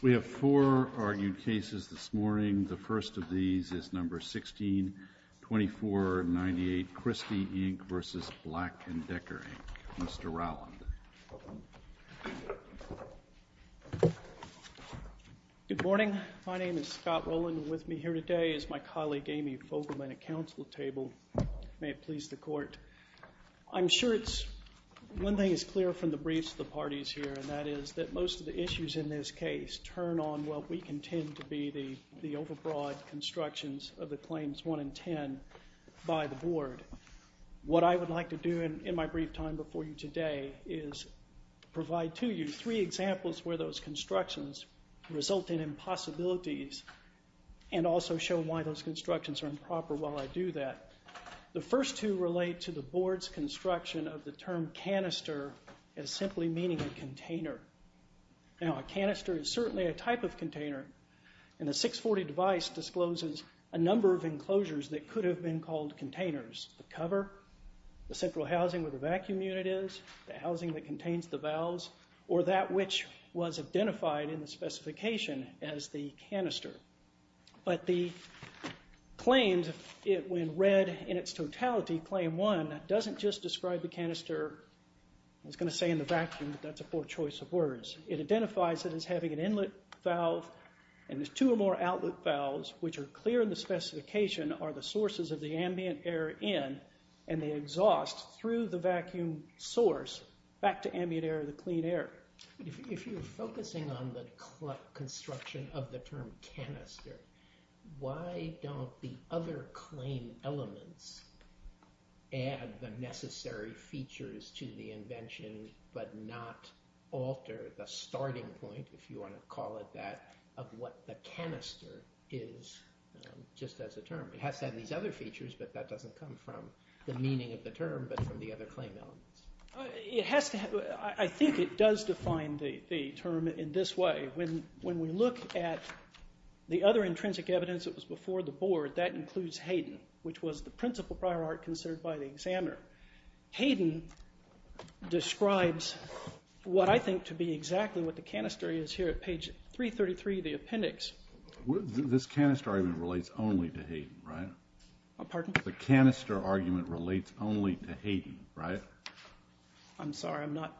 We have four argued cases this morning. The first of these is No. 16-2498, Christy, Inc. v. Black & Decker, Inc., Mr. Rowland. Good morning. My name is Scott Rowland. With me here today is my colleague Amy Fogelman at Council Table. May it please the Court. I'm sure one thing is clear from the briefs of the parties here, and that is that most of the issues in this case turn on what we contend to be the overbroad constructions of the Claims 1 and 10 by the Board. What I would like to do in my brief time before you today is provide to you three examples where those constructions result in impossibilities and also show why those constructions are improper while I do that. The first two relate to the Board's construction of the term canister as simply meaning a container. Now, a canister is certainly a type of container, and the 640 device discloses a number of enclosures that could have been called containers, the cover, the central housing where the vacuum unit is, the housing that contains the valves, or that which was identified in the specification as the canister. But the Claims, when read in its totality, Claim 1, doesn't just describe the canister, I was going to say in the vacuum, but that's a poor choice of words. It identifies it as having an inlet valve and there's two or more outlet valves which are clear in the specification are the sources of the ambient air in and the exhaust through the vacuum source back to ambient air, the clean air. If you're focusing on the construction of the term canister, why don't the other claim elements add the necessary features to the invention but not alter the starting point, if you want to call it that, of what the canister is just as a term? It has to have these other features, but that doesn't come from the meaning of the term, but from the other claim elements. I think it does define the term in this way. When we look at the other intrinsic evidence that was before the Board, that includes Hayden, which was the principal prior art considered by the examiner. Hayden describes what I think to be exactly what the canister is here at page 333 of the appendix. This canister argument relates only to Hayden, right? Pardon? The canister argument relates only to Hayden, right? I'm sorry, I'm not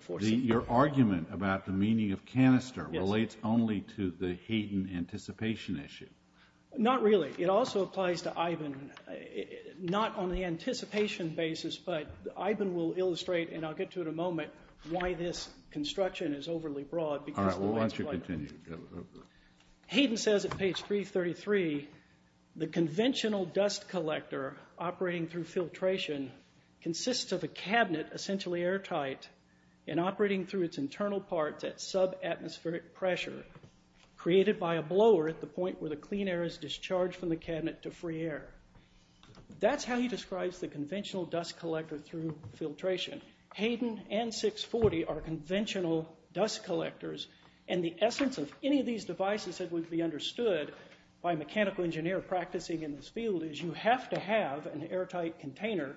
forcing you. Your argument about the meaning of canister relates only to the Hayden anticipation issue. Not really. It also applies to Iben, not on the anticipation basis, but Iben will illustrate, and I'll get to it in a moment, why this construction is overly broad. All right, why don't you continue? Hayden says at page 333, the conventional dust collector operating through filtration consists of a cabinet essentially airtight and operating through its internal parts at sub-atmospheric pressure created by a blower at the point where the clean air is discharged from the cabinet to free air. That's how he describes the conventional dust collector through filtration. Hayden and 640 are conventional dust collectors, and the essence of any of these devices that would be understood by a mechanical engineer practicing in this field is you have to have an airtight container.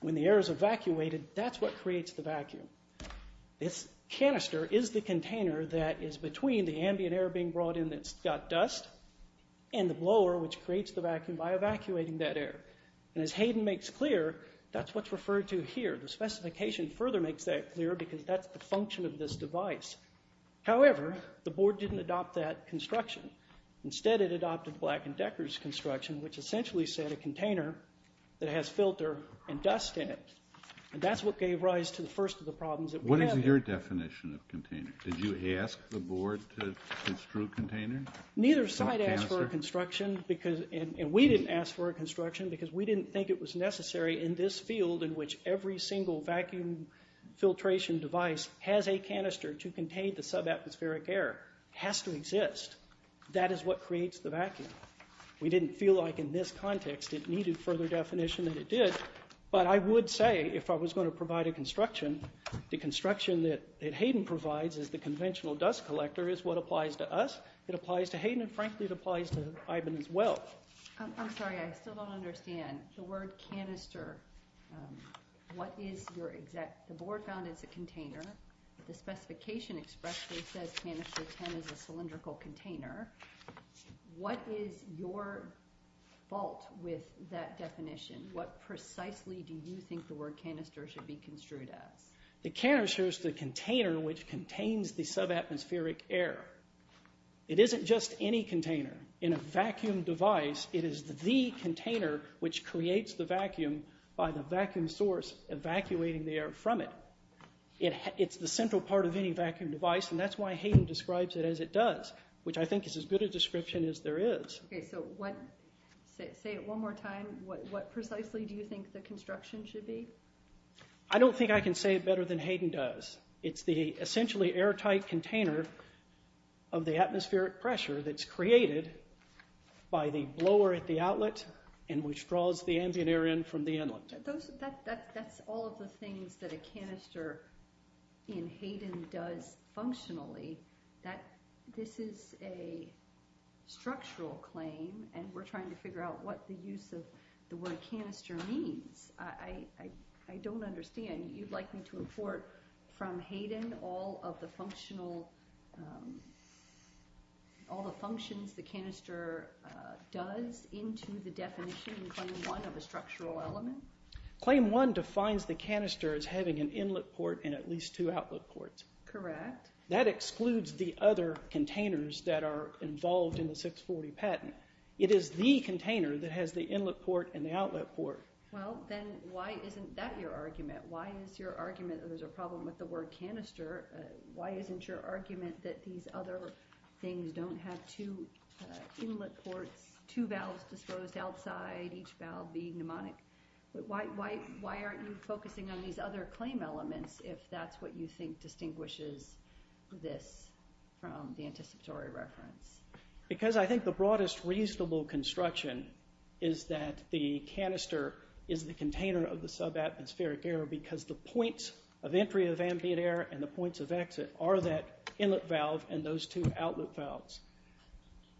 When the air is evacuated, that's what creates the vacuum. This canister is the container that is between the ambient air being brought in that's got dust and the blower, which creates the vacuum by evacuating that air. As Hayden makes clear, that's what's referred to here. The specification further makes that clear because that's the function of this device. However, the board didn't adopt that construction. Instead, it adopted Black and Decker's construction, which essentially said a container that has filter and dust in it, and that's what gave rise to the first of the problems that we have here. What is your definition of container? Did you ask the board to construe a container? because we didn't think it was necessary in this field in which every single vacuum filtration device has a canister to contain the sub-atmospheric air. It has to exist. That is what creates the vacuum. We didn't feel like in this context it needed further definition than it did, but I would say if I was going to provide a construction, the construction that Hayden provides as the conventional dust collector is what applies to us. It applies to Hayden, and frankly, it applies to Ivan as well. I'm sorry, I still don't understand. The word canister, what is your exact... The board found it's a container. The specification expressly says canister 10 is a cylindrical container. What is your fault with that definition? What precisely do you think the word canister should be construed as? The canister is the container which contains the sub-atmospheric air. It isn't just any container. In a vacuum device, it is the container which creates the vacuum by the vacuum source evacuating the air from it. It's the central part of any vacuum device, and that's why Hayden describes it as it does, which I think is as good a description as there is. Say it one more time. What precisely do you think the construction should be? I don't think I can say it better than Hayden does. It's the essentially airtight container of the atmospheric pressure that's created by the blower at the outlet and which draws the ambient air in from the inlet. That's all of the things that a canister in Hayden does functionally. This is a structural claim, and we're trying to figure out what the use of the word canister means. I don't understand. You'd like me to import from Hayden all of the functions the canister does into the definition in Claim 1 of a structural element? Claim 1 defines the canister as having an inlet port and at least two outlet ports. Correct. That excludes the other containers that are involved in the 640 patent. It is the container that has the inlet port and the outlet port. Well, then why isn't that your argument? Why is your argument that there's a problem with the word canister? Why isn't your argument that these other things don't have two inlet ports, two valves disposed outside, each valve being pneumonic? Why aren't you focusing on these other claim elements if that's what you think distinguishes this from the anticipatory reference? Because I think the broadest reasonable construction is that the canister is the container of the subatmospheric air because the points of entry of ambient air and the points of exit are that inlet valve and those two outlet valves.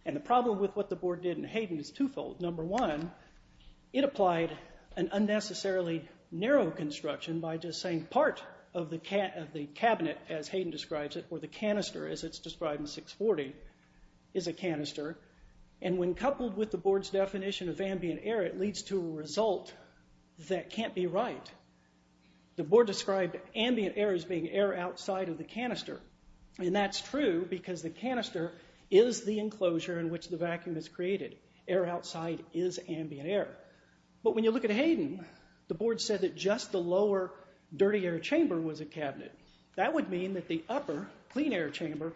The problem with what the board did in Hayden is twofold. Number one, it applied an unnecessarily narrow construction by just saying part of the cabinet, as Hayden describes it, or the canister, as it's described in 640, is a canister. And when coupled with the board's definition of ambient air, it leads to a result that can't be right. The board described ambient air as being air outside of the canister. And that's true because the canister is the enclosure in which the vacuum is created. Air outside is ambient air. But when you look at Hayden, the board said that just the lower dirty air chamber was a cabinet. That would mean that the upper clean air chamber,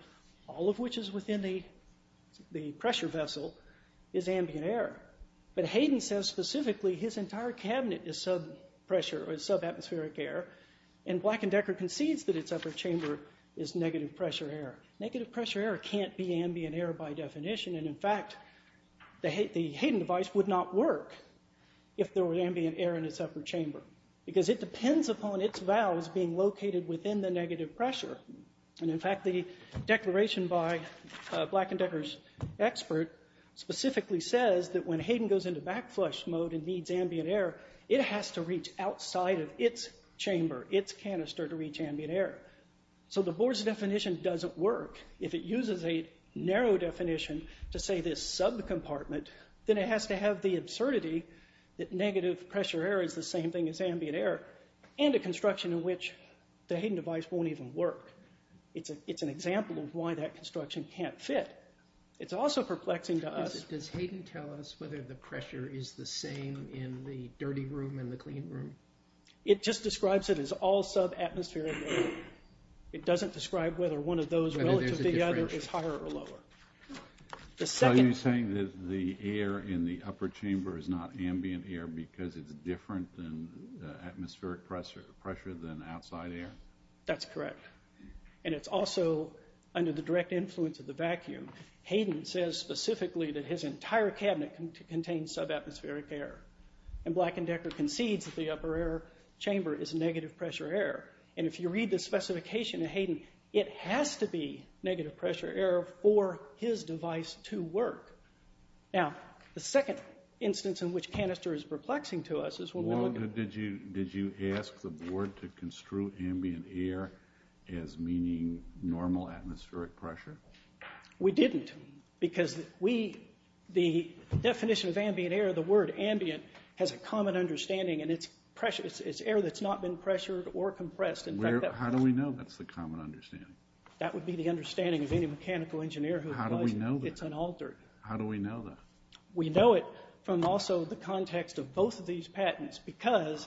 all of which is within the pressure vessel, is ambient air. But Hayden says specifically his entire cabinet is subatmospheric air, and Black and Decker concedes that its upper chamber is negative pressure air. Negative pressure air can't be ambient air by definition, and in fact the Hayden device would not work if there were ambient air in its upper chamber because it depends upon its valves being located within the negative pressure. And in fact the declaration by Black and Decker's expert specifically says that when Hayden goes into backflush mode and needs ambient air, it has to reach outside of its chamber, its canister, to reach ambient air. So the board's definition doesn't work. If it uses a narrow definition to say this subcompartment, then it has to have the absurdity that negative pressure air is the same thing as ambient air, and a construction in which the Hayden device won't even work. It's an example of why that construction can't fit. It's also perplexing to us... Does Hayden tell us whether the pressure is the same in the dirty room and the clean room? It just describes it as all subatmospheric air. It doesn't describe whether one of those relative to the other is higher or lower. Are you saying that the air in the upper chamber is not ambient air because it's different than atmospheric pressure than outside air? That's correct. And it's also under the direct influence of the vacuum. Hayden says specifically that his entire cabinet contains subatmospheric air. And Black and Decker concedes that the upper chamber is negative pressure air. And if you read the specification of Hayden, it has to be negative pressure air for his device to work. Now, the second instance in which canister is perplexing to us is when... Did you ask the board to construe ambient air as meaning normal atmospheric pressure? We didn't because the definition of ambient air, the word ambient, has a common understanding, and it's air that's not been pressured or compressed. How do we know that's the common understanding? That would be the understanding of any mechanical engineer who applies it. How do we know that? It's unaltered. How do we know that? We know it from also the context of both of these patents because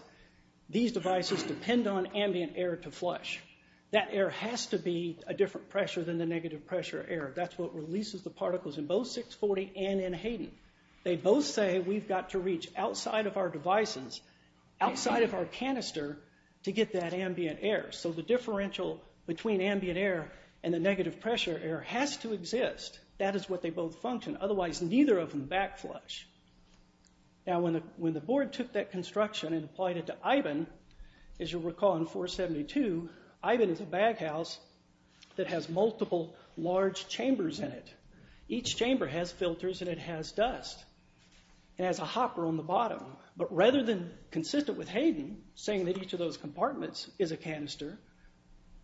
these devices depend on ambient air to flush. That air has to be a different pressure than the negative pressure air. That's what releases the particles in both 640 and in Hayden. They both say we've got to reach outside of our devices, outside of our canister, to get that ambient air. So the differential between ambient air and the negative pressure air has to exist. That is what they both function. Otherwise, neither of them backflush. Now, when the board took that construction and applied it to Ivan, as you'll recall in 472, Ivan is a baghouse that has multiple large chambers in it. Each chamber has filters and it has dust. It has a hopper on the bottom. But rather than consistent with Hayden, saying that each of those compartments is a canister,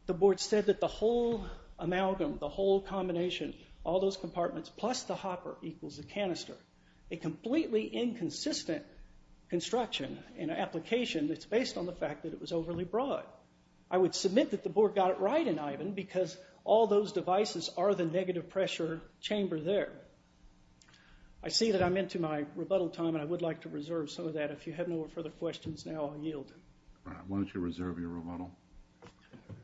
the board said that the whole amalgam, the whole combination, all those compartments plus the hopper equals the canister. A completely inconsistent construction and application that's based on the fact that it was overly broad. I would submit that the board got it right in Ivan because all those devices are the negative pressure chamber there. I see that I'm into my rebuttal time, and I would like to reserve some of that. If you have no further questions now, I'll yield. All right. Why don't you reserve your rebuttal.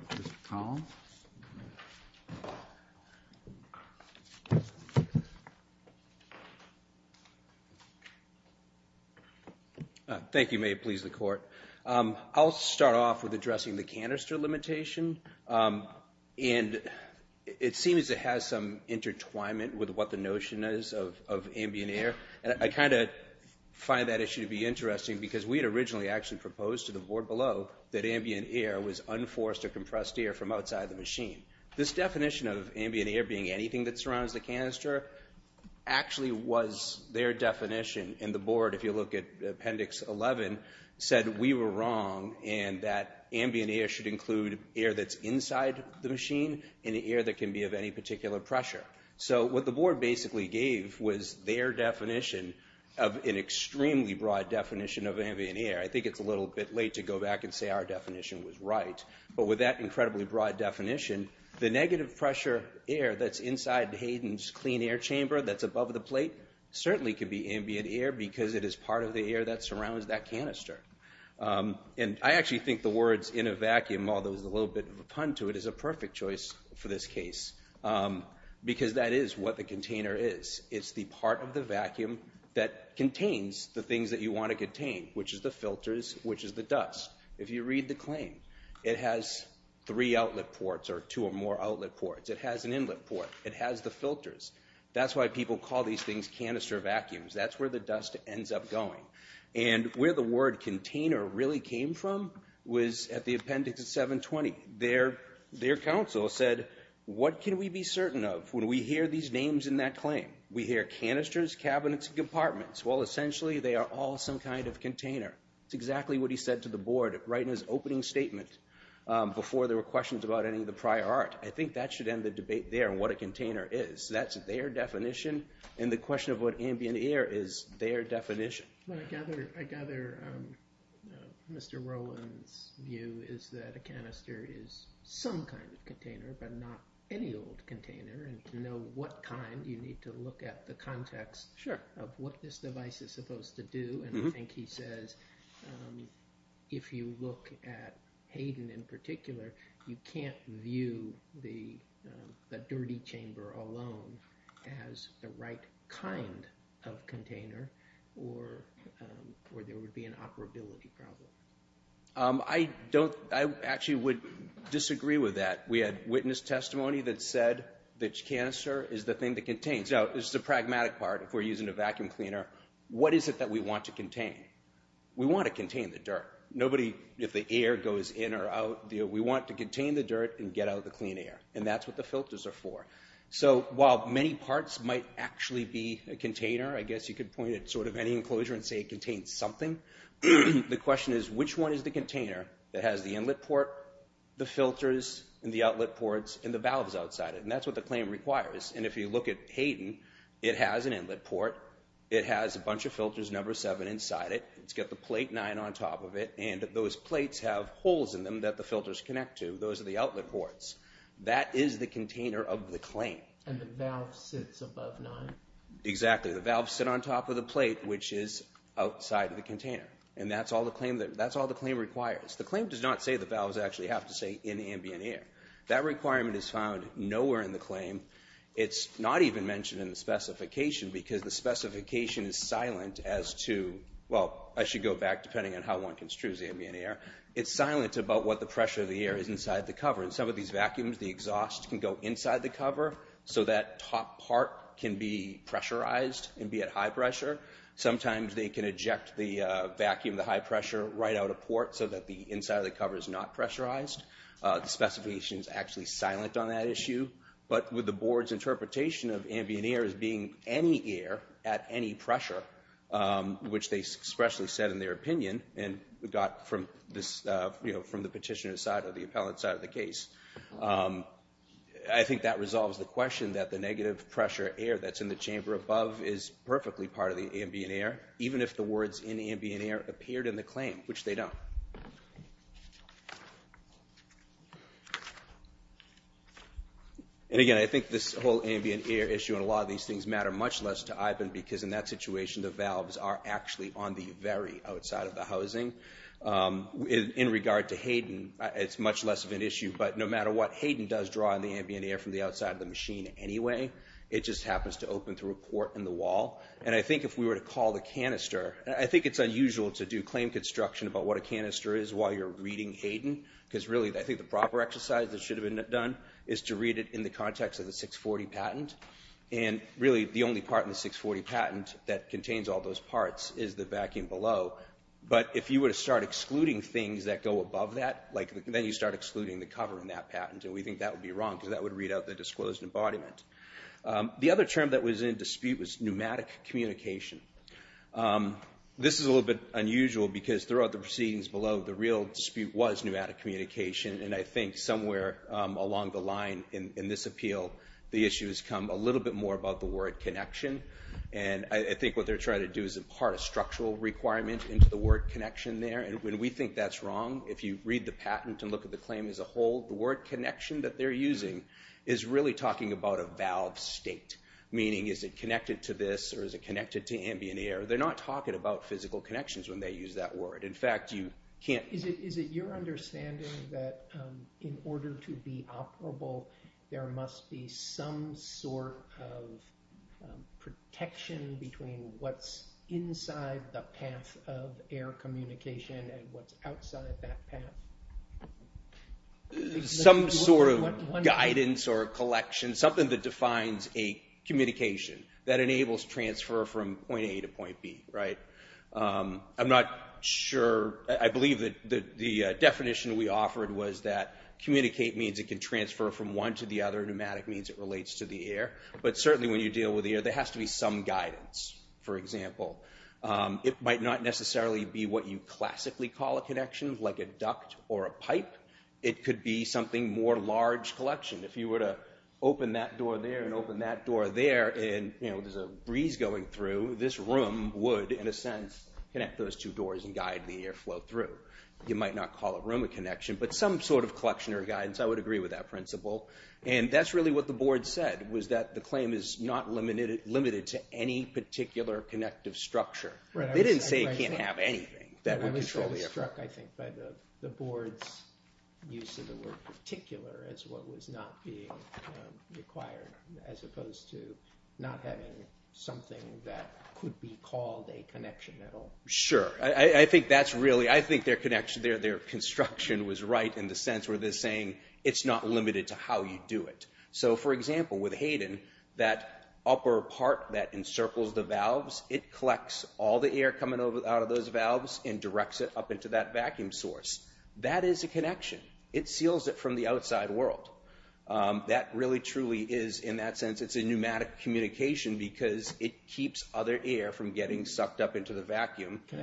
Mr. Collins? Thank you. May it please the Court. I'll start off with addressing the canister limitation. And it seems it has some intertwinement with what the notion is of ambient air. I kind of find that issue to be interesting because we had originally actually proposed to the board below that ambient air was unforced or compressed air from outside the machine. This definition of ambient air being anything that surrounds the canister actually was their definition. And the board, if you look at Appendix 11, said we were wrong and that ambient air should include air that's inside the machine and air that can be of any particular pressure. So what the board basically gave was their definition of an extremely broad definition of ambient air. I think it's a little bit late to go back and say our definition was right. But with that incredibly broad definition, the negative pressure air that's inside Hayden's clean air chamber that's above the plate certainly could be ambient air because it is part of the air that surrounds that canister. And I actually think the words in a vacuum, although there's a little bit of a pun to it, is a perfect choice for this case because that is what the container is. It's the part of the vacuum that contains the things that you want to contain, which is the filters, which is the dust. If you read the claim, it has three outlet ports or two or more outlet ports. It has an inlet port. It has the filters. That's why people call these things canister vacuums. That's where the dust ends up going. And where the word container really came from was at the Appendix 720. Their counsel said, what can we be certain of when we hear these names in that claim? We hear canisters, cabinets, and compartments. Well, essentially they are all some kind of container. That's exactly what he said to the board right in his opening statement before there were questions about any of the prior art. I think that should end the debate there on what a container is. That's their definition. And the question of what ambient air is their definition. I gather Mr. Rowland's view is that a canister is some kind of container, but not any old container. And to know what kind, you need to look at the context of what this device is supposed to do. And I think he says, if you look at Hayden in particular, you can't view the dirty chamber alone as the right kind of container or there would be an operability problem. I actually would disagree with that. We had witness testimony that said the canister is the thing that contains. Now, this is the pragmatic part. If we're using a vacuum cleaner, what is it that we want to contain? We want to contain the dirt. Nobody, if the air goes in or out, we want to contain the dirt and get out the clean air. And that's what the filters are for. So while many parts might actually be a container, I guess you could point at sort of any enclosure and say it contains something, the question is, which one is the container that has the inlet port, the filters, and the outlet ports, and the valves outside it? And that's what the claim requires. And if you look at Hayden, it has an inlet port. It has a bunch of filters, number seven, inside it. It's got the plate nine on top of it. And those plates have holes in them that the filters connect to. Those are the outlet ports. That is the container of the claim. And the valve sits above nine. Exactly. The valves sit on top of the plate, which is outside of the container. And that's all the claim requires. The claim does not say the valves actually have to stay in ambient air. That requirement is found nowhere in the claim. It's not even mentioned in the specification because the specification is silent as to, well, I should go back depending on how one construes ambient air. It's silent about what the pressure of the air is inside the cover. In some of these vacuums, the exhaust can go inside the cover so that top part can be pressurized and be at high pressure. Sometimes they can eject the vacuum, the high pressure, right out of port so that the inside of the cover is not pressurized. The specification is actually silent on that issue. But with the board's interpretation of ambient air as being any air at any pressure, which they expressly said in their opinion and got from the petitioner's side or the appellant's side of the case, I think that resolves the question that the negative pressure air that's in the chamber above is perfectly part of the ambient air, even if the words in ambient air appeared in the claim, which they don't. And, again, I think this whole ambient air issue because in that situation the valves are actually on the very outside of the housing. In regard to Hayden, it's much less of an issue, but no matter what Hayden does draw in the ambient air from the outside of the machine anyway, it just happens to open through a port in the wall. And I think if we were to call the canister, I think it's unusual to do claim construction about what a canister is while you're reading Hayden because really I think the proper exercise that should have been done is to read it in the context of the 640 patent. And really the only part in the 640 patent that contains all those parts is the vacuum below. But if you were to start excluding things that go above that, then you start excluding the cover in that patent, and we think that would be wrong because that would read out the disclosed embodiment. The other term that was in dispute was pneumatic communication. This is a little bit unusual because throughout the proceedings below, the real dispute was pneumatic communication, and I think somewhere along the line in this appeal, the issues come a little bit more about the word connection. And I think what they're trying to do is impart a structural requirement into the word connection there, and we think that's wrong. If you read the patent and look at the claim as a whole, the word connection that they're using is really talking about a valve state, meaning is it connected to this or is it connected to ambient air? They're not talking about physical connections when they use that word. Is it your understanding that in order to be operable, there must be some sort of protection between what's inside the path of air communication and what's outside that path? Some sort of guidance or collection, something that defines a communication that enables transfer from point A to point B. I'm not sure. I believe that the definition we offered was that communicate means it can transfer from one to the other. Pneumatic means it relates to the air. But certainly when you deal with the air, there has to be some guidance. For example, it might not necessarily be what you classically call a connection, like a duct or a pipe. It could be something more large collection. If you were to open that door there and open that door there, and there's a breeze going through, this room would, in a sense, connect those two doors and guide the air flow through. You might not call a room a connection, but some sort of collection or guidance, I would agree with that principle. That's really what the board said, was that the claim is not limited to any particular connective structure. They didn't say it can't have anything that would control the air flow. I was struck, I think, by the board's use of the word particular as what was not being required, as opposed to not having something that could be called a connection at all. Sure. I think their construction was right in the sense where they're saying it's not limited to how you do it. For example, with Hayden, that upper part that encircles the valves, it collects all the air coming out of those valves and directs it up into that vacuum source. That is a connection. It seals it from the outside world. That really truly is, in that sense, it's a pneumatic communication because it keeps other air from getting sucked up into the vacuum. Can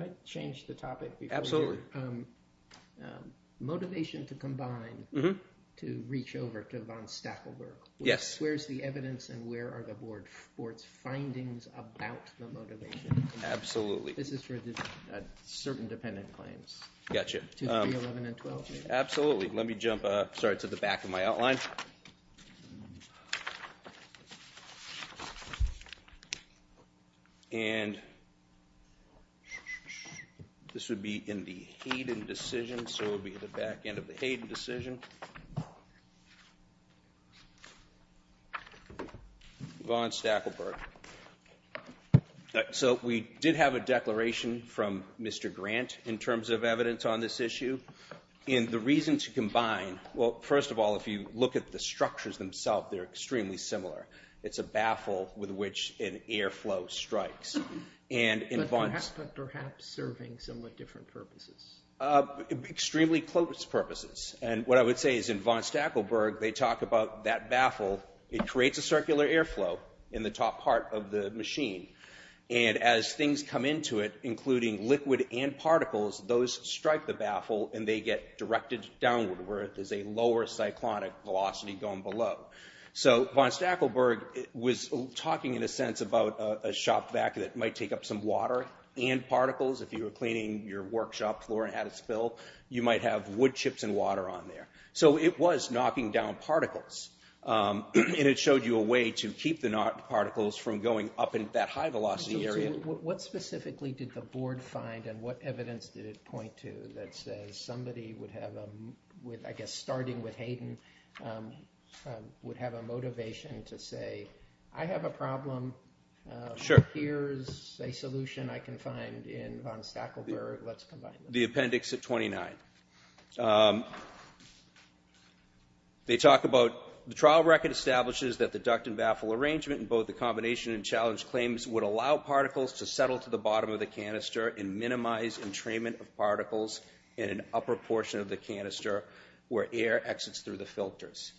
I change the topic? Absolutely. Motivation to combine to reach over to von Stackelberg. Yes. Where's the evidence and where are the board's findings about the motivation? Absolutely. This is for certain dependent claims. Gotcha. 2, 3, 11, and 12. Absolutely. Let me jump to the back of my outline. This would be in the Hayden decision, so it would be at the back end of the Hayden decision. Von Stackelberg. So we did have a declaration from Mr. Grant in terms of evidence on this issue. And the reason to combine, well, first of all, if you look at the structures themselves, they're extremely similar. It's a baffle with which an airflow strikes. But perhaps serving somewhat different purposes. Extremely close purposes. And what I would say is in von Stackelberg, they talk about that baffle. It creates a circular airflow in the top part of the machine. And as things come into it, including liquid and particles, those strike the baffle and they get directed downward where there's a lower cyclonic velocity going below. So von Stackelberg was talking in a sense about a shop vac that might take up some water and particles. If you were cleaning your workshop floor and had a spill, you might have wood chips and water on there. So it was knocking down particles. And it showed you a way to keep the particles from going up into that high velocity area. What specifically did the board find and what evidence did it point to that says somebody would have, I guess, starting with Hayden, would have a motivation to say, I have a problem. Here's a solution I can find in von Stackelberg. Let's combine them. The appendix at 29. They talk about the trial record establishes that the duct and baffle arrangement in both the combination and challenge claims would allow particles to settle to the bottom of the canister and minimize entrainment of particles in an upper portion of the canister where air exits through the filters.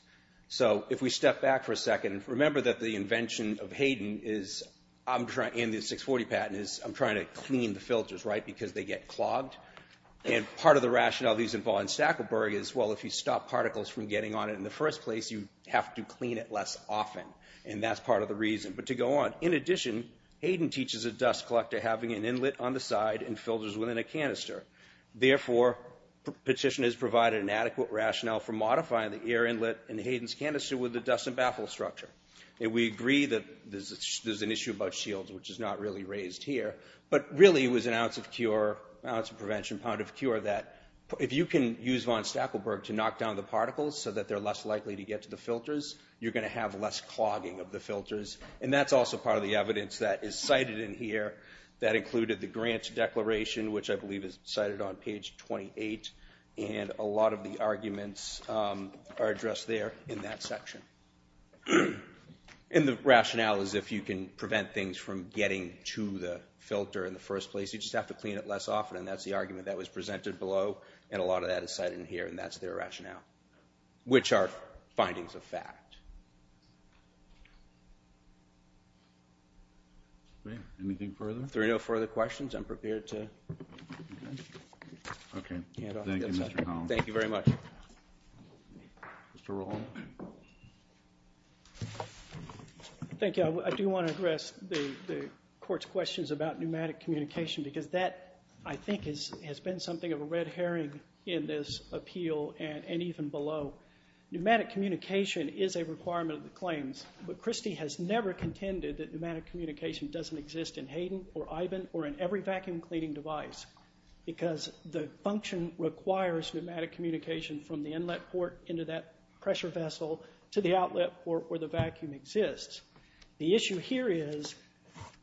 So if we step back for a second, remember that the invention of Hayden and the 640 patent is I'm trying to clean the filters, right, because they get clogged. And part of the rationale of these in von Stackelberg is, well, if you stop particles from getting on it in the first place, you have to clean it less often, and that's part of the reason. But to go on, in addition, Hayden teaches a dust collector having an inlet on the side and filters within a canister. Therefore, petitioners provide an adequate rationale for modifying the air inlet in Hayden's canister with the dust and baffle structure. We agree that there's an issue about shields, which is not really raised here, but really it was an ounce of cure, ounce of prevention, pound of cure, that if you can use von Stackelberg to knock down the particles so that they're less likely to get to the filters, you're going to have less clogging of the filters. And that's also part of the evidence that is cited in here. That included the grant declaration, which I believe is cited on page 28, and a lot of the arguments are addressed there in that section. And the rationale is if you can prevent things from getting to the filter in the first place, you just have to clean it less often, and that's the argument that was presented below, and a lot of that is cited in here, and that's their rationale, which are findings of fact. Great. Anything further? If there are no further questions, I'm prepared to hand off. Thank you, Mr. Holland. Thank you very much. Mr. Roland. Thank you. I do want to address the Court's questions about pneumatic communication because that, I think, has been something of a red herring in this appeal and even below. Pneumatic communication is a requirement of the claims, but Christie has never contended that pneumatic communication doesn't exist in Hayden or Ivan or in every vacuum cleaning device because the function requires pneumatic communication from the inlet port into that pressure vessel to the outlet port where the vacuum exists. The issue here is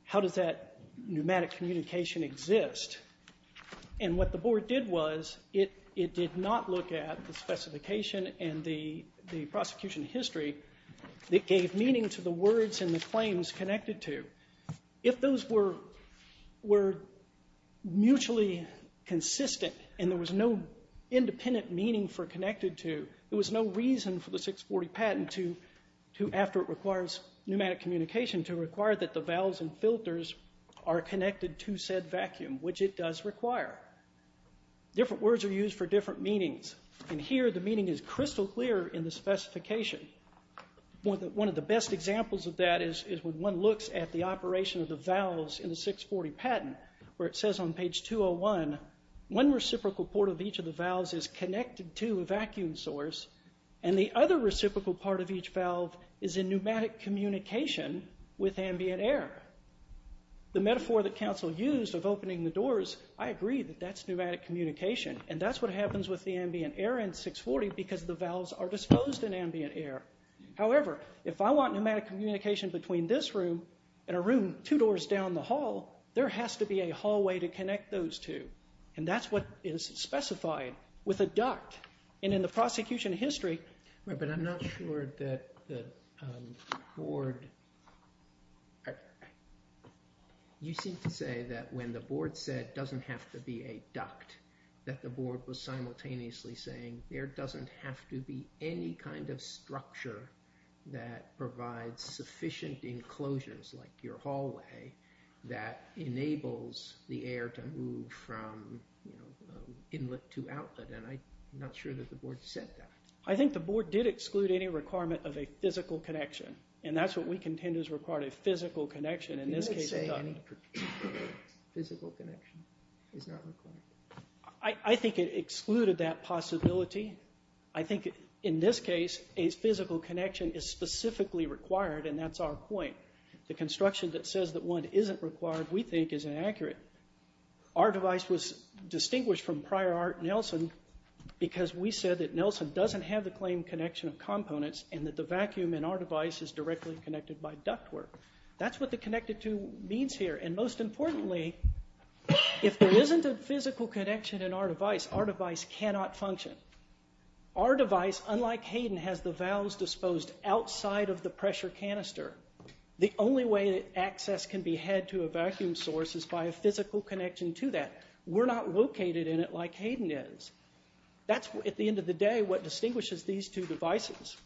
how does that pneumatic communication exist? And what the Board did was it did not look at the specification and the prosecution history that gave meaning to the words and the claims connected to. If those were mutually consistent and there was no independent meaning for connected to, there was no reason for the 640 patent to, after it requires pneumatic communication, to require that the valves and filters are connected to said vacuum, which it does require. Different words are used for different meanings, and here the meaning is crystal clear in the specification. One of the best examples of that is when one looks at the operation of the valves in the 640 patent where it says on page 201, one reciprocal port of each of the valves is connected to a vacuum source and the other reciprocal part of each valve is in pneumatic communication with ambient air. The metaphor that counsel used of opening the doors, I agree that that's pneumatic communication, and that's what happens with the ambient air in 640 because the valves are disposed in ambient air. However, if I want pneumatic communication between this room and a room two doors down the hall, there has to be a hallway to connect those two, and that's what is specified with a duct, and in the prosecution history... But I'm not sure that the board... You seem to say that when the board said it doesn't have to be a duct, that the board was simultaneously saying there doesn't have to be any kind of structure that provides sufficient enclosures like your hallway that enables the air to move from inlet to outlet, and I'm not sure that the board said that. I think the board did exclude any requirement of a physical connection, and that's what we contend is required, a physical connection. In this case, a duct. Physical connection is not required. I think it excluded that possibility. I think in this case, a physical connection is specifically required, and that's our point. The construction that says that one isn't required, we think, is inaccurate. Our device was distinguished from prior art Nelson because we said that Nelson doesn't have the claimed connection of components and that the vacuum in our device is directly connected by ductwork. That's what the connected two means here, and most importantly, if there isn't a physical connection in our device, our device cannot function. Our device, unlike Hayden, has the valves disposed outside of the pressure canister. The only way that access can be had to a vacuum source is by a physical connection to that. We're not located in it like Hayden is. That's, at the end of the day, what distinguishes these two devices.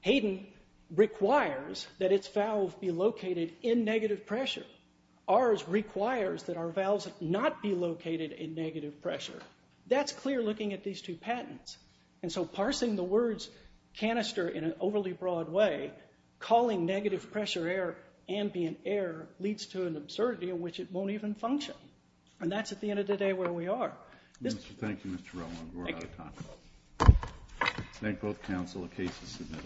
Hayden requires that its valve be located in negative pressure. Ours requires that our valves not be located in negative pressure. That's clear looking at these two patents, and so parsing the words canister in an overly broad way, calling negative pressure air ambient air leads to an absurdity in which it won't even function, and that's, at the end of the day, where we are. Thank you, Mr. Relman. We're out of time. Thank both counsel. The case is submitted.